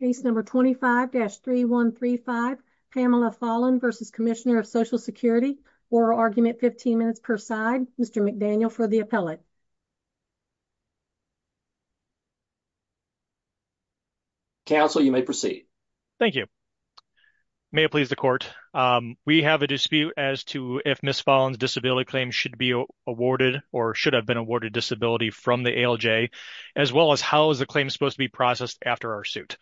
Case number 25-3135 Pamela Follen v. Comm of Social Security Oral Argument 15 minutes per side Mr. McDaniel for the appellate. Counsel you may proceed. Thank you. May it please the court. We have a dispute as to if Ms. Follen's disability claim should be awarded or should have been awarded disability from the ALJ as well as how is the claim supposed to be processed after our suit.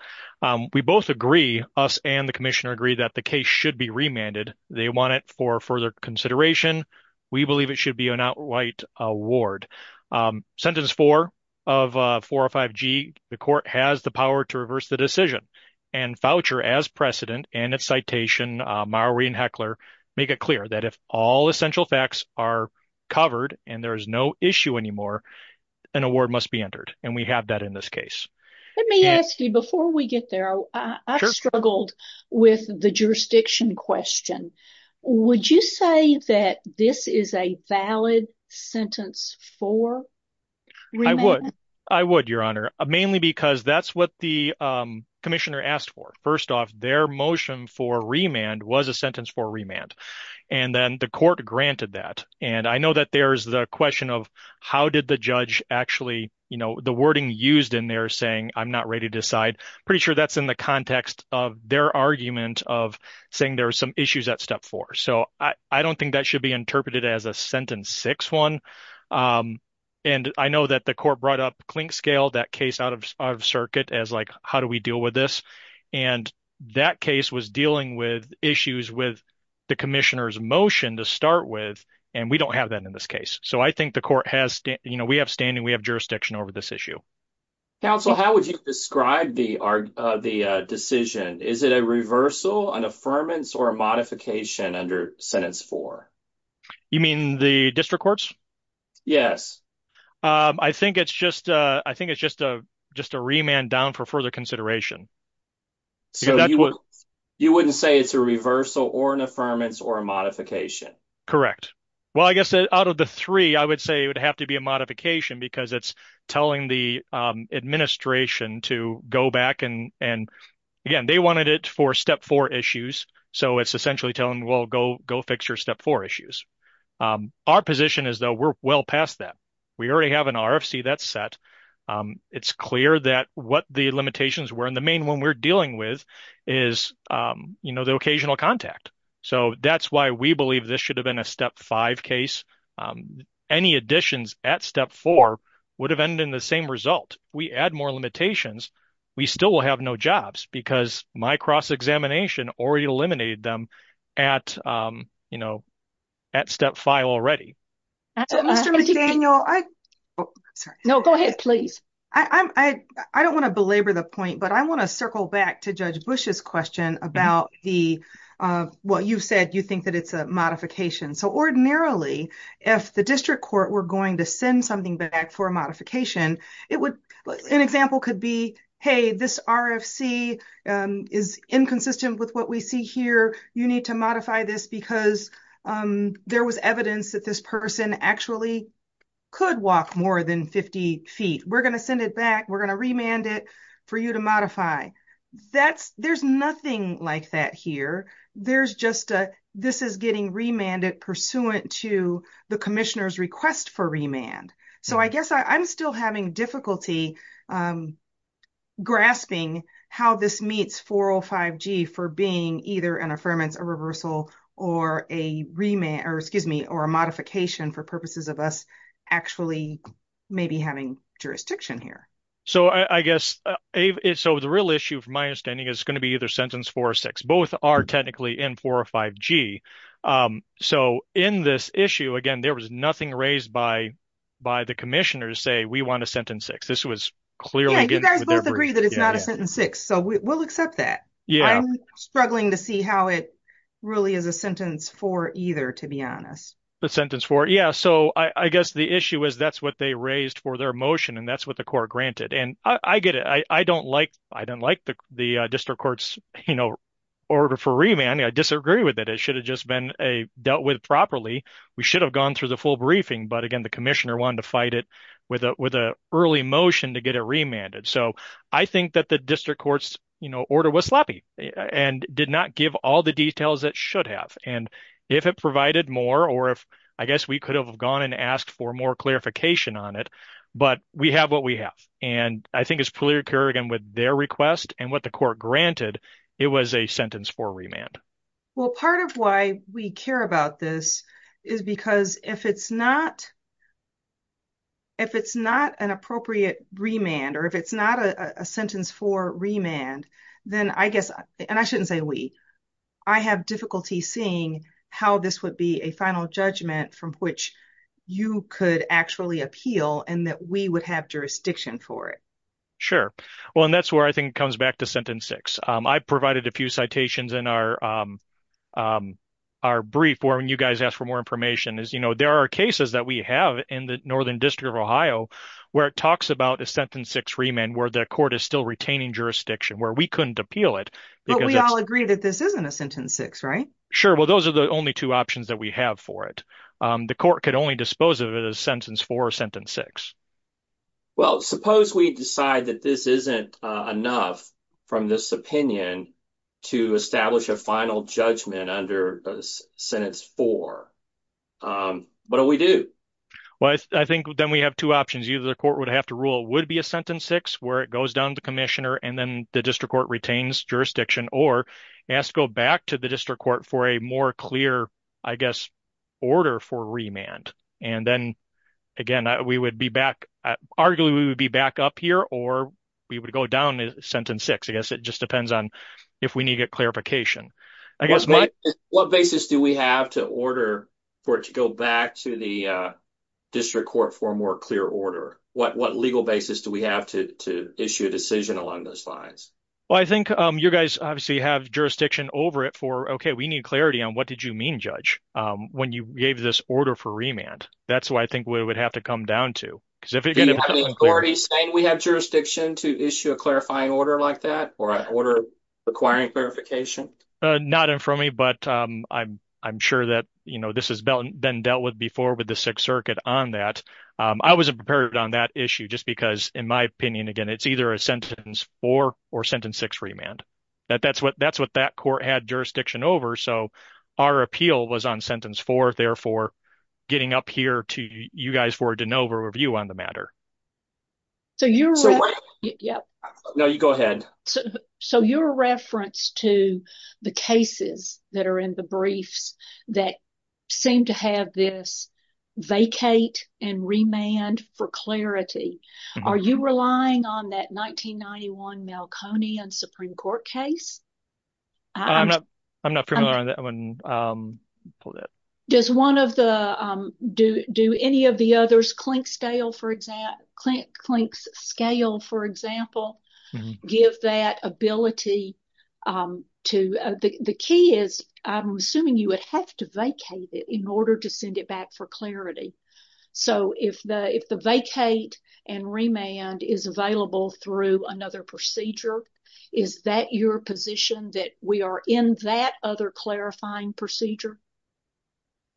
We both agree, us and the commissioner agree, that the case should be remanded. They want it for further consideration. We believe it should be an outright award. Sentence 4 of 405G, the court has the power to reverse the decision and voucher as precedent and its citation, Mowrey and Heckler, make it have that in this case. Let me ask you before we get there, I struggled with the jurisdiction question. Would you say that this is a valid sentence for remand? I would, your honor, mainly because that's what the commissioner asked for. First off, their motion for remand was a sentence for remand. And then the court granted that. And I know that there's the question of how did the judge actually, you know, the wording used in there saying, I'm not ready to decide. Pretty sure that's in the context of their argument of saying there are some issues at step four. So I don't think that should be interpreted as a sentence six one. And I know that the court brought up clink scale, that case out of circuit as like, how do we deal with this? And that case was dealing with issues with the commissioner's motion to start with. And we don't have that in this case. So I think the court has, you know, we have standing, we have jurisdiction over this issue. Counsel, how would you describe the decision? Is it a reversal, an affirmance, or a modification under sentence four? You mean the district courts? Yes. I think it's just a remand down for further consideration. So you wouldn't say it's a reversal or an affirmance or a modification. Correct. Well, I guess out of the three, I would say it would have to be a modification because it's telling the administration to go back. And again, they wanted it for step four issues. So it's essentially telling, well, go fix your step four issues. Our position is that we're well past that. We already have an RFC that's set. It's clear that what the limitations were. And the main one we're dealing with is, you know, the occasional contact. So that's why we believe this should have been a step five case. Any additions at step four would have ended in the same result. We add more limitations, we still will have no jobs because my cross-examination already eliminated them at, you know, at step five already. Mr. McDaniel, I'm sorry. No, go ahead, please. I don't want to belabor the point, but I want to circle back to Judge Bush's question about the, what you said, you think that it's a modification. So ordinarily, if the district court were going to send something back for a modification, it would, an example could be, hey, this RFC is inconsistent with what we see here. You need to modify this because there was evidence that this person actually could walk more than 50 feet. We're going to send it back. We're going to remand it for you to modify. That's, there's nothing like that here. There's just a, this is getting remanded pursuant to the commissioner's request for remand. So I guess I'm still having difficulty grasping how this meets 405G for being either an experiment, a reversal, or a remand, or excuse me, or a modification for purposes of us actually maybe having jurisdiction here. So I guess, so the real issue, from my understanding, is going to be either sentence four or six. Both are technically in 405G. So in this issue, again, there was nothing raised by the commissioner to say we want a sentence six. This was clearly... Yeah, you guys both agree that it's not a sentence six, so we'll accept that. I'm struggling to see how it really is a sentence four either, to be honest. The sentence four, yeah. So I guess the issue is that's what they raised for their motion, and that's what the court granted. And I get it. I don't like, I don't like the district court's, you know, order for remand. I disagree with it. It should have just been a dealt with properly. We should have gone through the full briefing, but again, the commissioner wanted to fight it with a, with a early motion to get it remanded. So I think that the district court's, you know, order was sloppy and did not give all the details it should have. And if it provided more, or if, I guess we could have gone and asked for more clarification on it, but we have what we have. And I think it's clearly occurring with their request and what the court granted, it was a sentence four remand. Well, part of why we care about this is because if it's not, if it's not an appropriate remand, or if it's not a sentence for remand, then I guess, and I shouldn't say we, I have difficulty seeing how this would be a final judgment from which you could actually appeal and that we would have jurisdiction for it. Sure. Well, and that's where I think it comes back to sentence six. I provided a few citations in our, our brief where when you guys ask for more information is, you know, there are cases that we have in the Northern District of Ohio where it talks about a sentence six remand, where the court is still retaining jurisdiction, where we couldn't appeal it. But we all agree that this isn't a sentence six, right? Sure. Well, those are the only two options that we have for it. The court could only dispose of it as sentence four or sentence six. Well, suppose we decide that this isn't enough from this opinion to establish a final judgment under sentence four. What do we do? Well, I think then we have two options. Either the court would have to rule it would be a sentence six, where it goes down to commissioner, and then the district court retains jurisdiction, or it has to go back to the district court for a more clear, I guess, order for remand. And then, again, we would be back, arguably, we would be back up here, or we would go down sentence six. I guess it just depends on if we need a clarification. What basis do we have to order for it to go back to the district court for a more clear order? What legal basis do we have to issue a decision along those lines? Well, I think you guys obviously have jurisdiction over it for, okay, we need clarity on what did you mean, Judge, when you gave this order for remand. That's what I think we would have to come down to. Do you have the authority saying we have requiring clarification? Not in front of me, but I'm sure that this has been dealt with before with the Sixth Circuit on that. I wasn't prepared on that issue, just because, in my opinion, again, it's either a sentence four or sentence six remand. That's what that court had jurisdiction over. So our appeal was on sentence four, therefore, getting up here to you guys for a review on the matter. So you're a reference to the cases that are in the briefs that seem to have this vacate and remand for clarity. Are you relying on that 1991 Malconey and Supreme Court case? I'm not familiar on that one. Does one of the, do any of the others, Clink Scale, for example, give that ability to, the key is, I'm assuming you would have to vacate it in order to send it back for clarity. So if the vacate and remand is available through another procedure, is that your position that we are in that other clarifying procedure?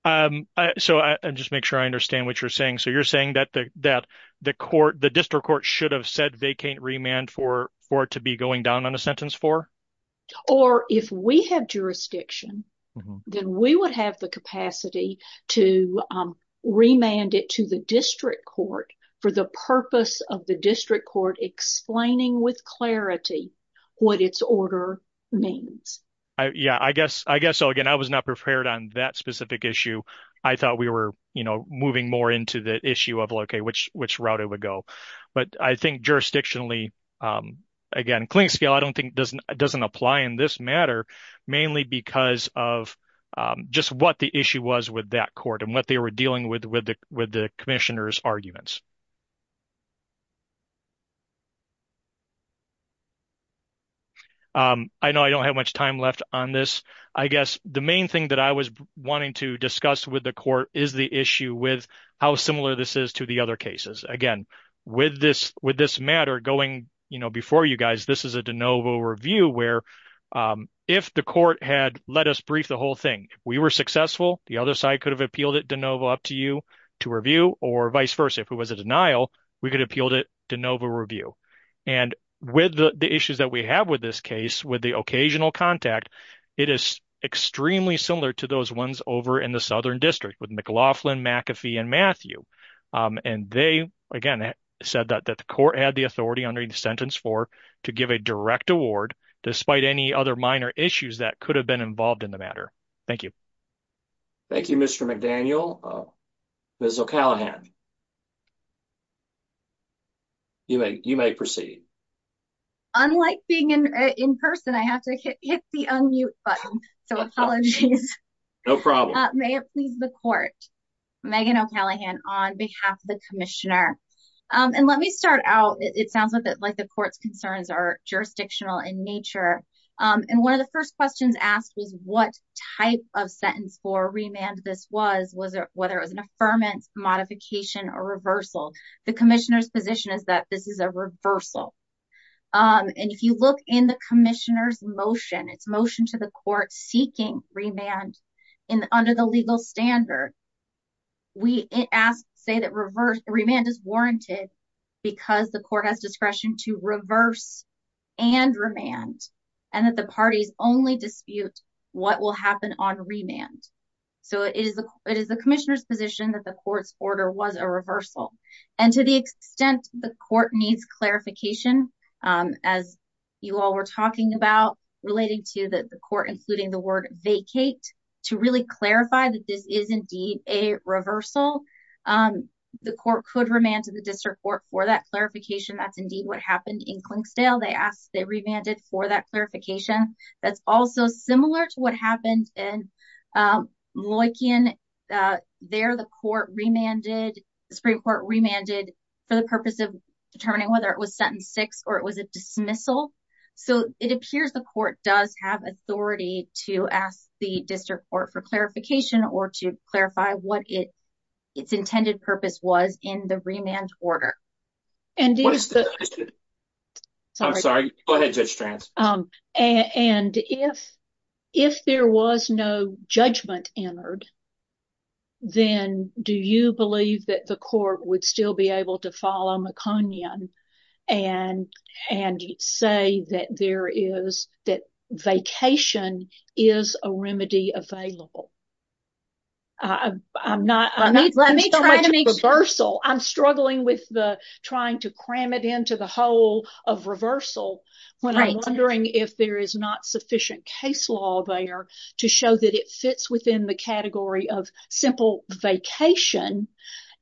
So I'll just make sure I understand what you're saying. So you're saying that the court, the district court should have said vacate remand for it to be going down on a sentence four? Or if we have jurisdiction, then we would have the capacity to remand it to the district court for the purpose of the district court explaining with clarity what its order means. Yeah, I guess. So again, I was not prepared on that specific issue. I thought we were, you know, moving more into the issue of, okay, which route it would go. But I think jurisdictionally, again, Clink Scale, I don't think doesn't apply in this matter, mainly because of just what the issue was with that court and what they were dealing with the commissioner's arguments. I know I don't have much time left on this. I guess the main thing that I was wanting to discuss with the court is the issue with how similar this is to the other cases. Again, with this matter going, you know, before you guys, this is a de novo review where if the court had let us brief the whole thing, we were successful, the other side could have appealed it de novo up to you to review or vice versa. If it was a denial, we could appeal it de novo review. And with the issues that we have with this case, with the occasional contact, it is extremely similar to those ones over in the Southern District with McLaughlin, McAfee and Matthew. And they, again, said that the court had the authority under the sentence for to give a direct award, despite any other minor issues that could have been involved in the matter. Thank you. Thank you, Mr. McDaniel. Ms. O'Callaghan. You may proceed. Unlike being in person, I have to hit the unmute button. So apologies. No problem. May it please the court. Megan O'Callaghan on behalf of the commissioner. And let me start out. It sounds like the court's concerns are jurisdictional in nature. And one of the first questions asked was what type of sentence for remand this was, whether it was an affirmance, modification or reversal. The commissioner's position is that this is a reversal. And if you look in the commissioner's motion, it's motion to the court seeking remand in under the legal standard. We ask, say that reverse remand is warranted because the court has discretion to reverse and remand and that the parties only dispute what will happen on remand. So it is the it is the commissioner's position that the court's order was a reversal. And to the extent the court needs clarification, as you all were talking about relating to the court, including the word vacate to really clarify that this is indeed a reversal, the court could remand to the district court for that clarification. That's indeed what happened in Clinksdale. They asked they remanded for that clarification. That's also similar to what remanded for the purpose of determining whether it was sentence six or it was a dismissal. So it appears the court does have authority to ask the district court for clarification or to clarify what its intended purpose was in the remand order. And what is the. So I'm sorry. Go ahead, Judge Strantz. And if if there was no judgment entered, then do you believe that the court would still be able to follow Maconian and and say that there is that vacation is a remedy available? I'm not. I mean, let me try to make reversal. I'm struggling with the trying to cram it into the whole of reversal when I'm wondering if there is not sufficient case law there to show that it fits within the category of simple vacation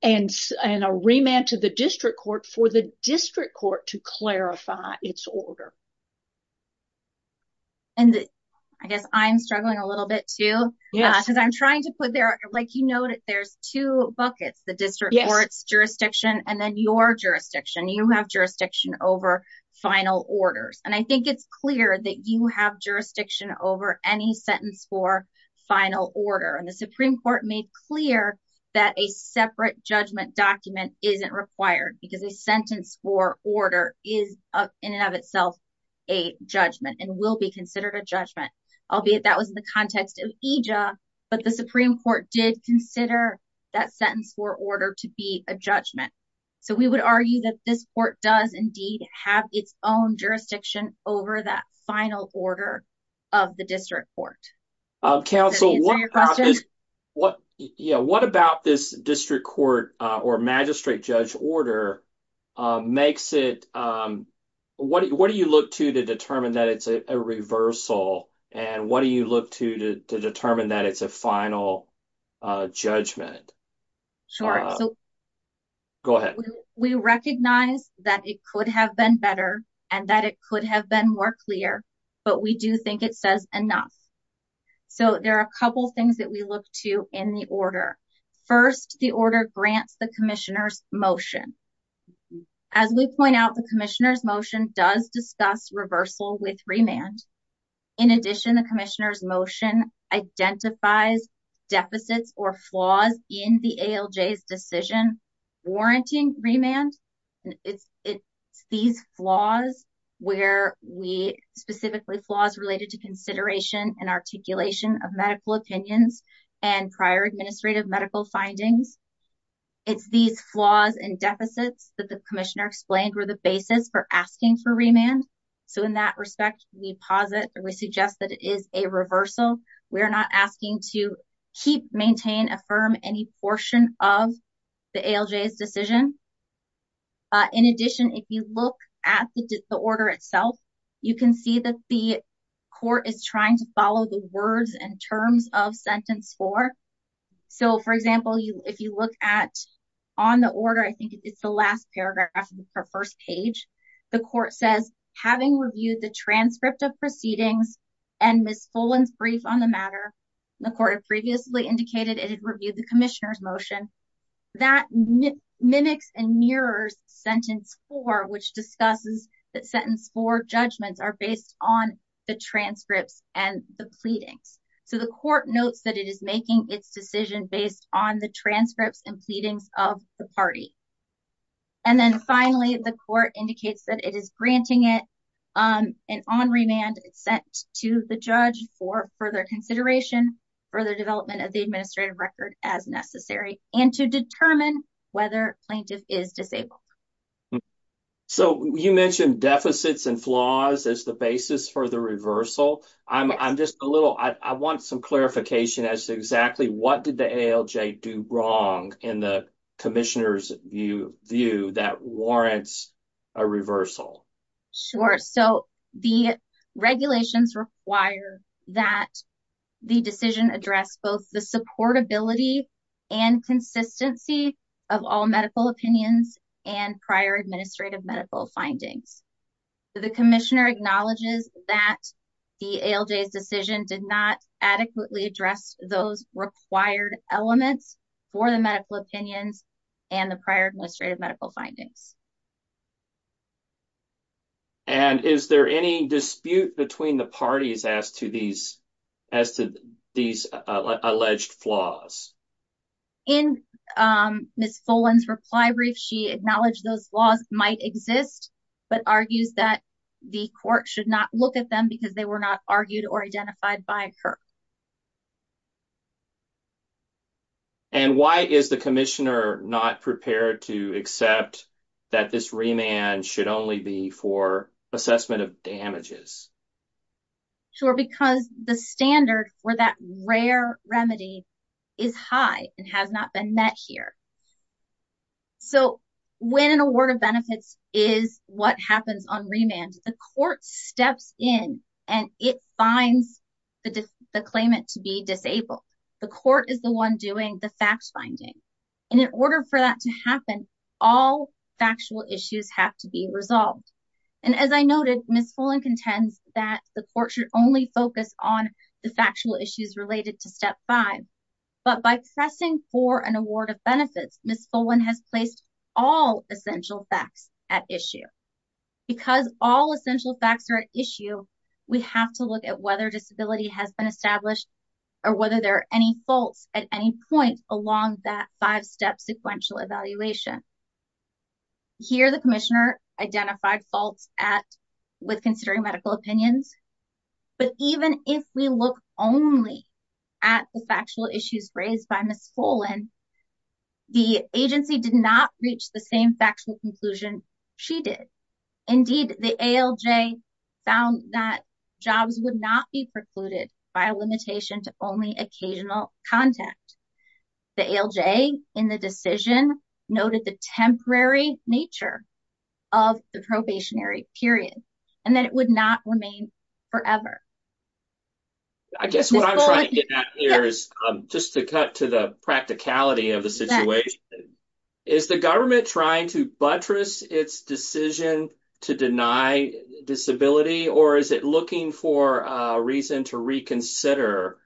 and and a remand to the district court for the district court to clarify its order. And I guess I'm struggling a little bit, too, because I'm trying to put there like, you know, there's two buckets, the district court's jurisdiction and then your jurisdiction, you have jurisdiction over final orders. And I think it's clear that you have jurisdiction over any sentence for final order. And the Supreme Court made clear that a separate judgment document isn't required because a sentence for order is in and of itself a judgment and will be considered a judgment, albeit that was in the context of EJA. But the Supreme Court did consider that sentence for order to be a judgment. So we would argue that this court does indeed have its own jurisdiction over that final order of the district court. Counsel, what about this district court or magistrate judge order makes it, what do you look to to determine that it's a reversal and what do you look to to determine that it's a final judgment? Sure. Go ahead. We recognize that it could have been better and that it could have been more clear, but we do think it says enough. So there are a couple of things that we look to in the order. First, the order grants the commissioner's motion. As we point out, the commissioner's motion does discuss reversal with remand. In addition, the commissioner's motion identifies deficits or flaws in the ALJ's decision warranting remand. It's these flaws where we specifically flaws related to consideration and articulation of medical opinions and prior administrative medical findings. It's these flaws and deficits that the commissioner explained were the basis for asking for remand. So in that respect, we pause it and we suggest that it is a reversal. We're not asking to keep, maintain, affirm any portion of the ALJ's decision. In addition, if you look at the order itself, you can see that the court is trying to follow the words and terms of sentence four. So for example, if you look at on the order, I think it's the last paragraph of the first page, the court says, having reviewed the transcript of proceedings and Ms. Follin's brief on the matter, the court had previously indicated it had reviewed the commissioner's motion. That mimics and mirrors sentence four, which discusses that sentence four judgments are based on the transcripts and the pleadings. So the court notes that it is making its decision based on the transcripts and pleadings of the party. And then finally, the court indicates that it is granting it and on remand sent to the judge for further consideration, further development of the administrative record as necessary, and to determine whether plaintiff is disabled. So you mentioned deficits and flaws as the basis for the reversal. I'm just a little, I want some clarification as to exactly what did the ALJ do wrong in the commissioner's view that warrants a reversal? Sure. So the regulations require that the decision address both the supportability and consistency of all medical opinions and prior administrative medical findings. The commissioner acknowledges that the ALJ's decision did not adequately address those required elements for the medical opinions and the prior administrative medical findings. And is there any dispute between the parties as to these alleged flaws? In Ms. Follin's reply brief, she acknowledged those laws might exist, but argues that the court should not look at them because they were not argued or identified by her. And why is the commissioner not prepared to accept that this remand should only be for assessment of damages? Sure, because the standard for that rare remedy is high and has not been met here. So when an award of benefits is what happens on remand, the court steps in and it finds the claimant to be disabled. The court is the one doing the fact finding. And in order for that to happen, all factual issues have to be resolved. And as I noted, Ms. Follin contends that the court should focus on the factual issues related to step five. But by pressing for an award of benefits, Ms. Follin has placed all essential facts at issue. Because all essential facts are at issue, we have to look at whether disability has been established or whether there are any faults at any point along that five-step sequential evaluation. Here, the commissioner identified faults with considering medical opinions. But even if we look only at the factual issues raised by Ms. Follin, the agency did not reach the same factual conclusion she did. Indeed, the ALJ found that jobs would not be precluded by a limitation to only occasional contact. The ALJ in the decision noted the temporary nature of the probationary period and that it would not remain forever. I guess what I'm trying to get at here is, just to cut to the practicality of the situation, is the government trying to buttress its decision to deny disability? Or is it looking for a reason to reconsider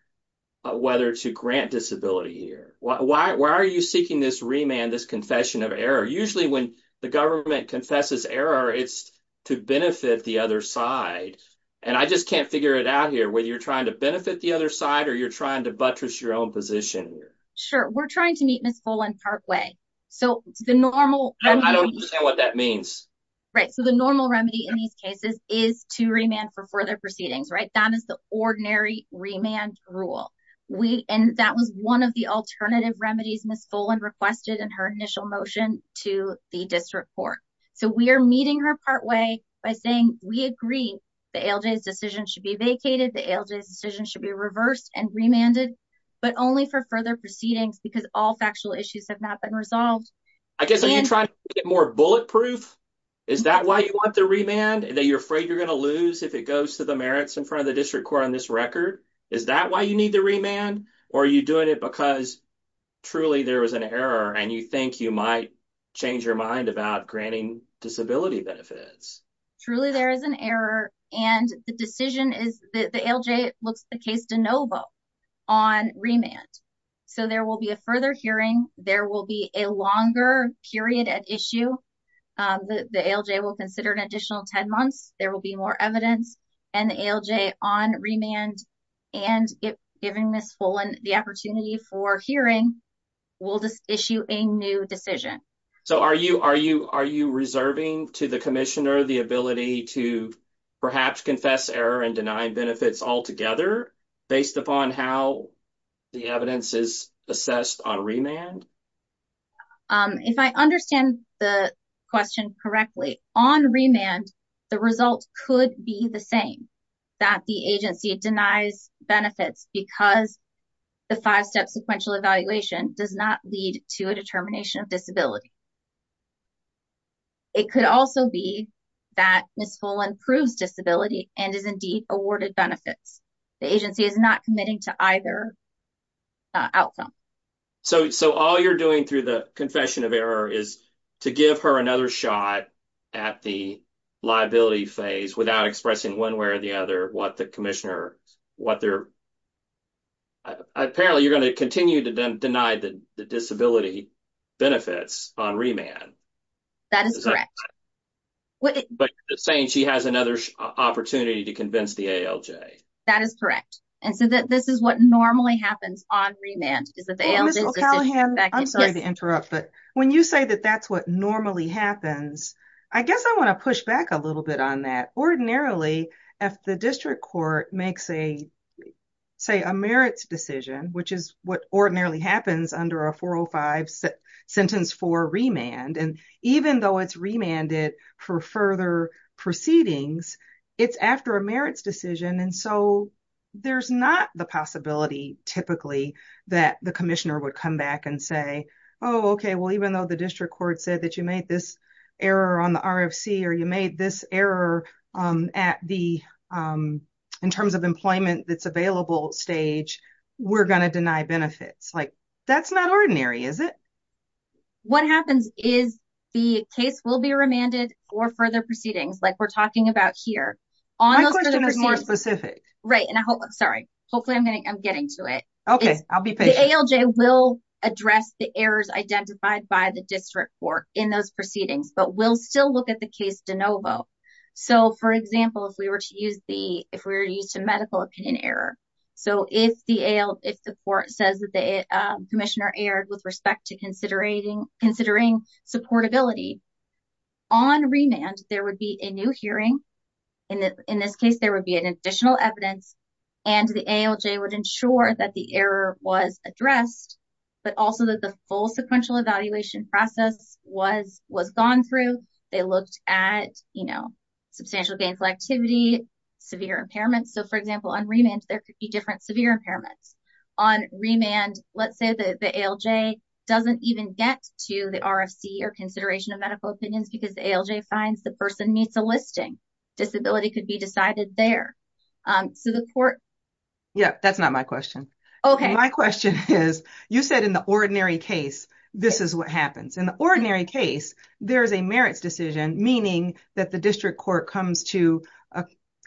whether to grant disability here? Why are you seeking this remand, this confession of error? Usually when the government confesses error, it's to benefit the other side. And I just can't figure it out here, whether you're trying to benefit the other side or you're trying to buttress your own position here. Sure. We're trying to meet Ms. Follin partway. So the normal... I don't understand what that means. Right. So the normal remedy in these cases is to remand for further proceedings, right? That is the ordinary remand rule. And that was one of the alternative remedies Ms. Follin requested in her initial motion to the district court. So we are meeting her partway by saying we agree the ALJ's decision should be vacated, the ALJ's decision should be reversed and remanded, but only for further proceedings because all factual issues have not been resolved. I guess are you trying to get more bulletproof? Is that why you want the remand? That you're afraid you're going to lose if it goes to the merits in front of the district court on this record? Is that why you need the remand? Or are you doing it because truly there was an error and you think you might change your mind about granting disability benefits? Truly there is an error. And the decision is that the ALJ looks the case de novo on remand. So there will be a further hearing. There will be a longer period at issue. The ALJ will consider an additional 10 months. There will be more evidence. And the ALJ on remand and giving Ms. Follin the opportunity for hearing will issue a new decision. So are you reserving to the commissioner the ability to perhaps confess error and deny benefits altogether based upon how the evidence is assessed on remand? If I understand the question correctly, on remand the result could be the same. That the agency denies benefits because the five-step sequential evaluation does not lead to a determination of disability. It could also be that Ms. Follin proves disability and is indeed awarded benefits. The agency is not committing to either outcome. So all you're doing through the confession of error is to give her another shot at the liability phase without expressing one way or the other what the commissioner, what they're, apparently you're going to continue to deny the disability benefits on remand. That is correct. But you're saying she has another opportunity to convince the ALJ. That is correct. And so that this is what normally happens on remand. I'm sorry to interrupt, but when you say that that's what normally happens, I guess I want to push back a little bit on that. Ordinarily, if the district court makes a say a merits decision, which is what ordinarily happens under a 405 sentence for remand. And even though it's remanded for further proceedings, it's after a merits decision. And so there's not the possibility typically that the commissioner would come back and say, oh, OK, well, even though the district court said that you made this error on the RFC or you made this error at the in terms of employment that's available stage, we're going to deny benefits like that's not ordinary, is it? What happens is the case will be remanded for further proceedings like we're talking about here. My question is more specific. Right. And I hope I'm sorry. Hopefully I'm getting to it. OK, I'll be the ALJ will address the errors identified by the district court in those proceedings, but we'll still look at the case de novo. So, for example, if we were to use the if we're used to medical opinion error. So if the if the court says that the commissioner erred with respect to considering considering supportability on remand, there would be a new hearing. In this case, there would be an additional evidence and the ALJ would ensure that the error was addressed, but also that the full sequential evaluation process was was gone through. They looked at, you know, substantial gainful activity, severe impairments. So, for example, on remand, there could be different severe impairments on remand. Let's say the ALJ doesn't even get to the RFC or consideration of medical opinions because ALJ finds the person needs a listing. Disability could be decided there. So the court. Yeah, that's not my question. OK, my question is, you said in the ordinary case, this is what happens in the ordinary case. There is a merits decision, meaning that the district court comes to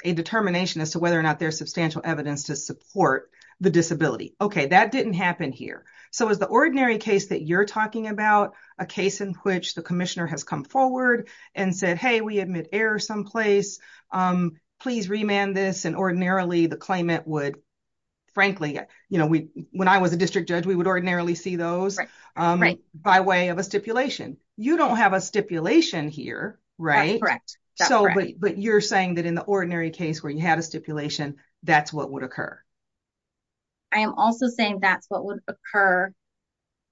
a determination as to whether or not there's substantial evidence to support the disability. OK, that didn't happen here. So is the ordinary case that you're talking about a case in which the commissioner has come forward and said, hey, we admit error someplace. Please remand this. And ordinarily the claimant would, frankly, you know, when I was a district judge, we would ordinarily see those by way of a stipulation. You don't have a stipulation here, right? Correct. So, but you're saying that in the ordinary case where you had a stipulation, that's what would occur. I am also saying that's what would occur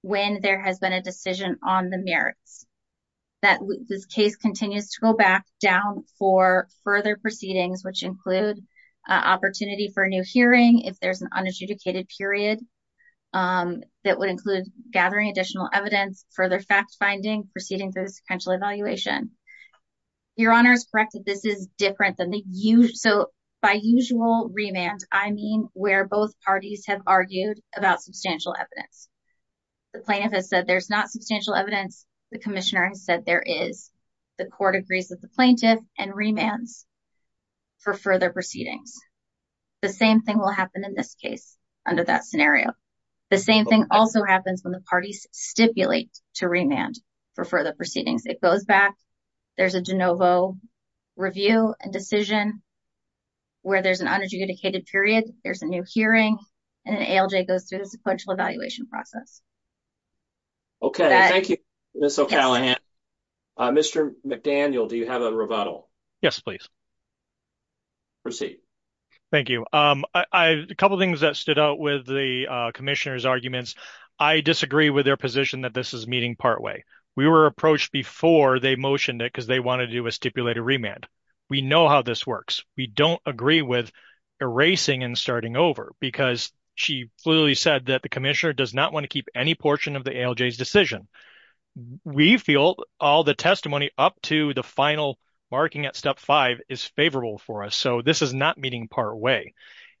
when there has been a decision on the merits. That this case continues to go back down for further proceedings, which include opportunity for a new hearing if there's an unadjudicated period that would include gathering additional evidence, further fact finding, proceeding through the sequential evaluation. Your Honor is correct. This is different than the usual. So both parties have argued about substantial evidence. The plaintiff has said there's not substantial evidence. The commissioner has said there is. The court agrees with the plaintiff and remands for further proceedings. The same thing will happen in this case under that scenario. The same thing also happens when the parties stipulate to remand for further proceedings. It goes back. There's a de novo review and decision where there's an unadjudicated period, there's a new hearing, and an ALJ goes through the sequential evaluation process. Okay. Thank you, Ms. O'Callaghan. Mr. McDaniel, do you have a rebuttal? Yes, please. Proceed. Thank you. A couple things that stood out with the commissioner's arguments. I disagree with their position that this is meeting partway. We were approached before they motioned it because they wanted to do a stipulated remand. We know how this works. We don't agree with erasing and starting over because she clearly said that the commissioner does not want to keep any portion of the ALJ's decision. We feel all the testimony up to the final marking at step five is favorable for us. So this is not meeting partway.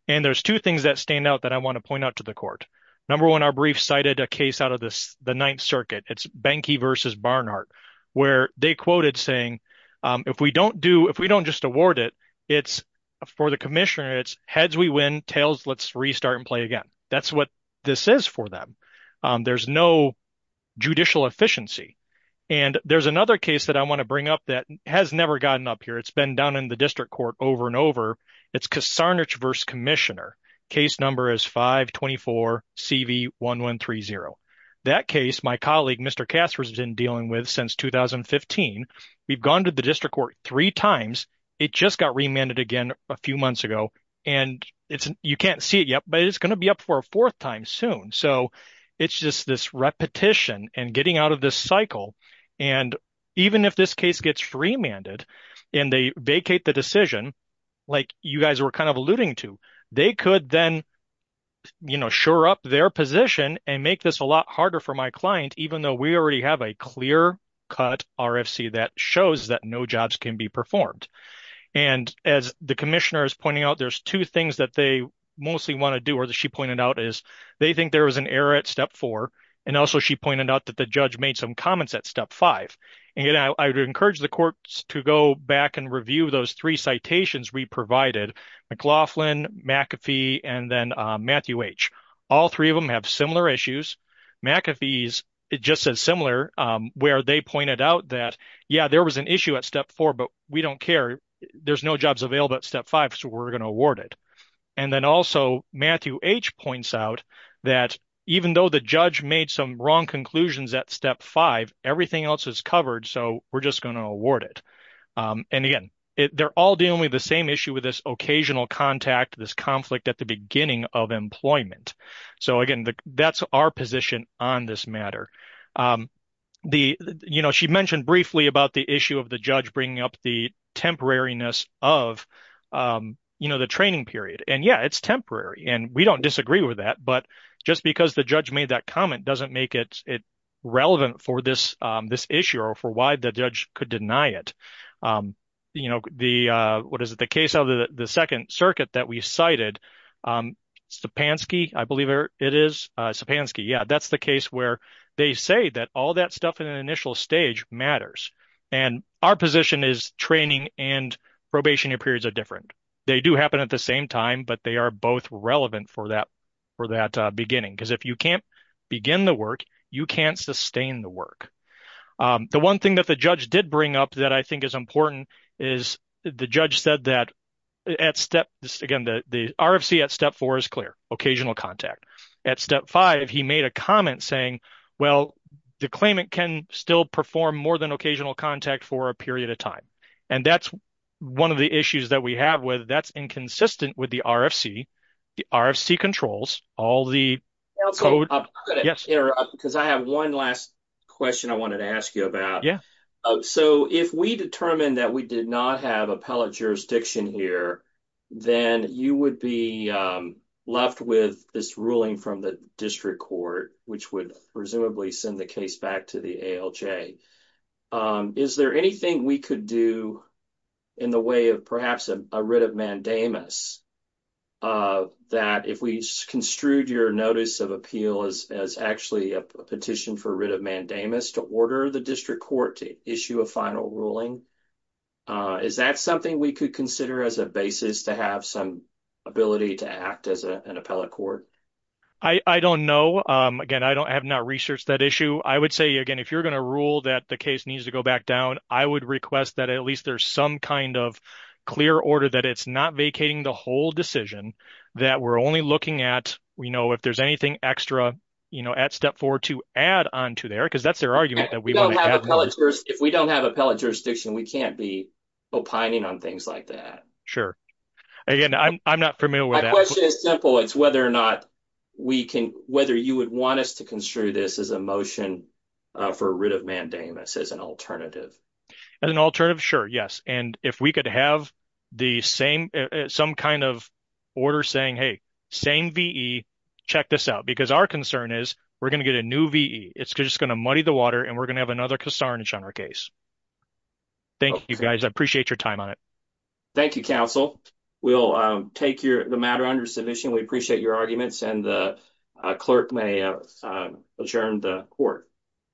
And there's two things that stand out that I want to point out to the court. Number one, our brief cited a case out of this, the Ninth Circuit, it's Banky versus Barnhart, where they quoted saying, if we don't do if we don't just award it, it's for the commissioner, it's heads, we win tails, let's restart and play again. That's what this is for them. There's no judicial efficiency. And there's another case that I want to bring up that has never gotten up here. It's been done in the district court over and over. It's Kasarnich versus commissioner. Case number is 524-CV-1130. That case, my colleague, Mr. Casper's been dealing with since 2015. We've gone to the district court three times. It just got remanded again a few months ago. And you can't see it yet, but it's going to be up for a fourth time soon. So it's just this repetition and getting out of this cycle. And even if this case gets remanded, and they vacate the decision, like you guys were kind of alluding to, they could then, you know, shore up their position and make this a lot harder for my client, even though we already have a clear cut RFC that shows that no jobs can be performed. And as the commissioner is pointing out, there's two things that they mostly want to do or that she pointed out is they think there was an error at step four. And also, she pointed out that the judge made some comments at step five. And I would encourage the courts to go back and review those three citations we provided, McLaughlin, McAfee, and then Matthew H. All three of them have similar issues. McAfee's, it just says similar, where they pointed out that, yeah, there was an issue at step four, but we don't care. There's no jobs available at step five, so we're going to award it. And then also, Matthew H. points out that even though the judge made some wrong conclusions at five, everything else is covered, so we're just going to award it. And again, they're all dealing with the same issue with this occasional contact, this conflict at the beginning of employment. So again, that's our position on this matter. The, you know, she mentioned briefly about the issue of the judge bringing up the temporariness of, you know, the training period. And yeah, it's temporary, and we don't disagree with that. But just because the judge made that comment doesn't make it relevant for this issue or for why the judge could deny it. You know, the, what is it, the case of the Second Circuit that we cited, Stepanski, I believe it is, Stepanski, yeah, that's the case where they say that all that stuff in an initial stage matters. And our position is training and probationary periods are different. They do happen at the same time, but they are both relevant for that, for that beginning. Because if you can't begin the work, you can't sustain the work. The one thing that the judge did bring up that I think is important is the judge said that at step, again, the RFC at step four is clear, occasional contact. At step five, he made a comment saying, well, the claimant can still perform more than occasional contact for a period of time. And that's one of the issues that we have with, that's inconsistent with the RFC. The RFC controls all the code. I'm going to interrupt because I have one last question I wanted to ask you about. So if we determined that we did not have appellate jurisdiction here, then you would be left with this ruling from the district court, which would presumably send the case back to the ALJ. Is there anything we could do in the way of perhaps a writ of mandamus that if we construed your notice of appeal as actually a petition for writ of mandamus to order the district court to issue a final ruling? Is that something we could consider as a basis to have some ability to act as an appellate court? I don't know. Again, I have not researched that issue. I would say, again, if you're going to rule that the case needs to go back down, I would request that at least there's some kind of clear order that it's not vacating the whole decision, that we're only looking at, you know, if there's anything extra, you know, at step four to add onto there, because that's their argument that we want to have. If we don't have appellate jurisdiction, we can't be opining on things like that. Sure. Again, I'm not familiar with that. It's simple. It's whether or not we can, whether you would want us to construe this as a motion for writ of mandamus as an alternative. As an alternative? Sure. Yes. And if we could have the same, some kind of order saying, hey, same V.E., check this out, because our concern is we're going to get a new V.E. It's just going to muddy the water and we're going to have another casarnage on our case. Thank you, guys. I appreciate your time on it. Thank you, counsel. We'll take the matter under submission. We appreciate your arguments, and the clerk may adjourn the court.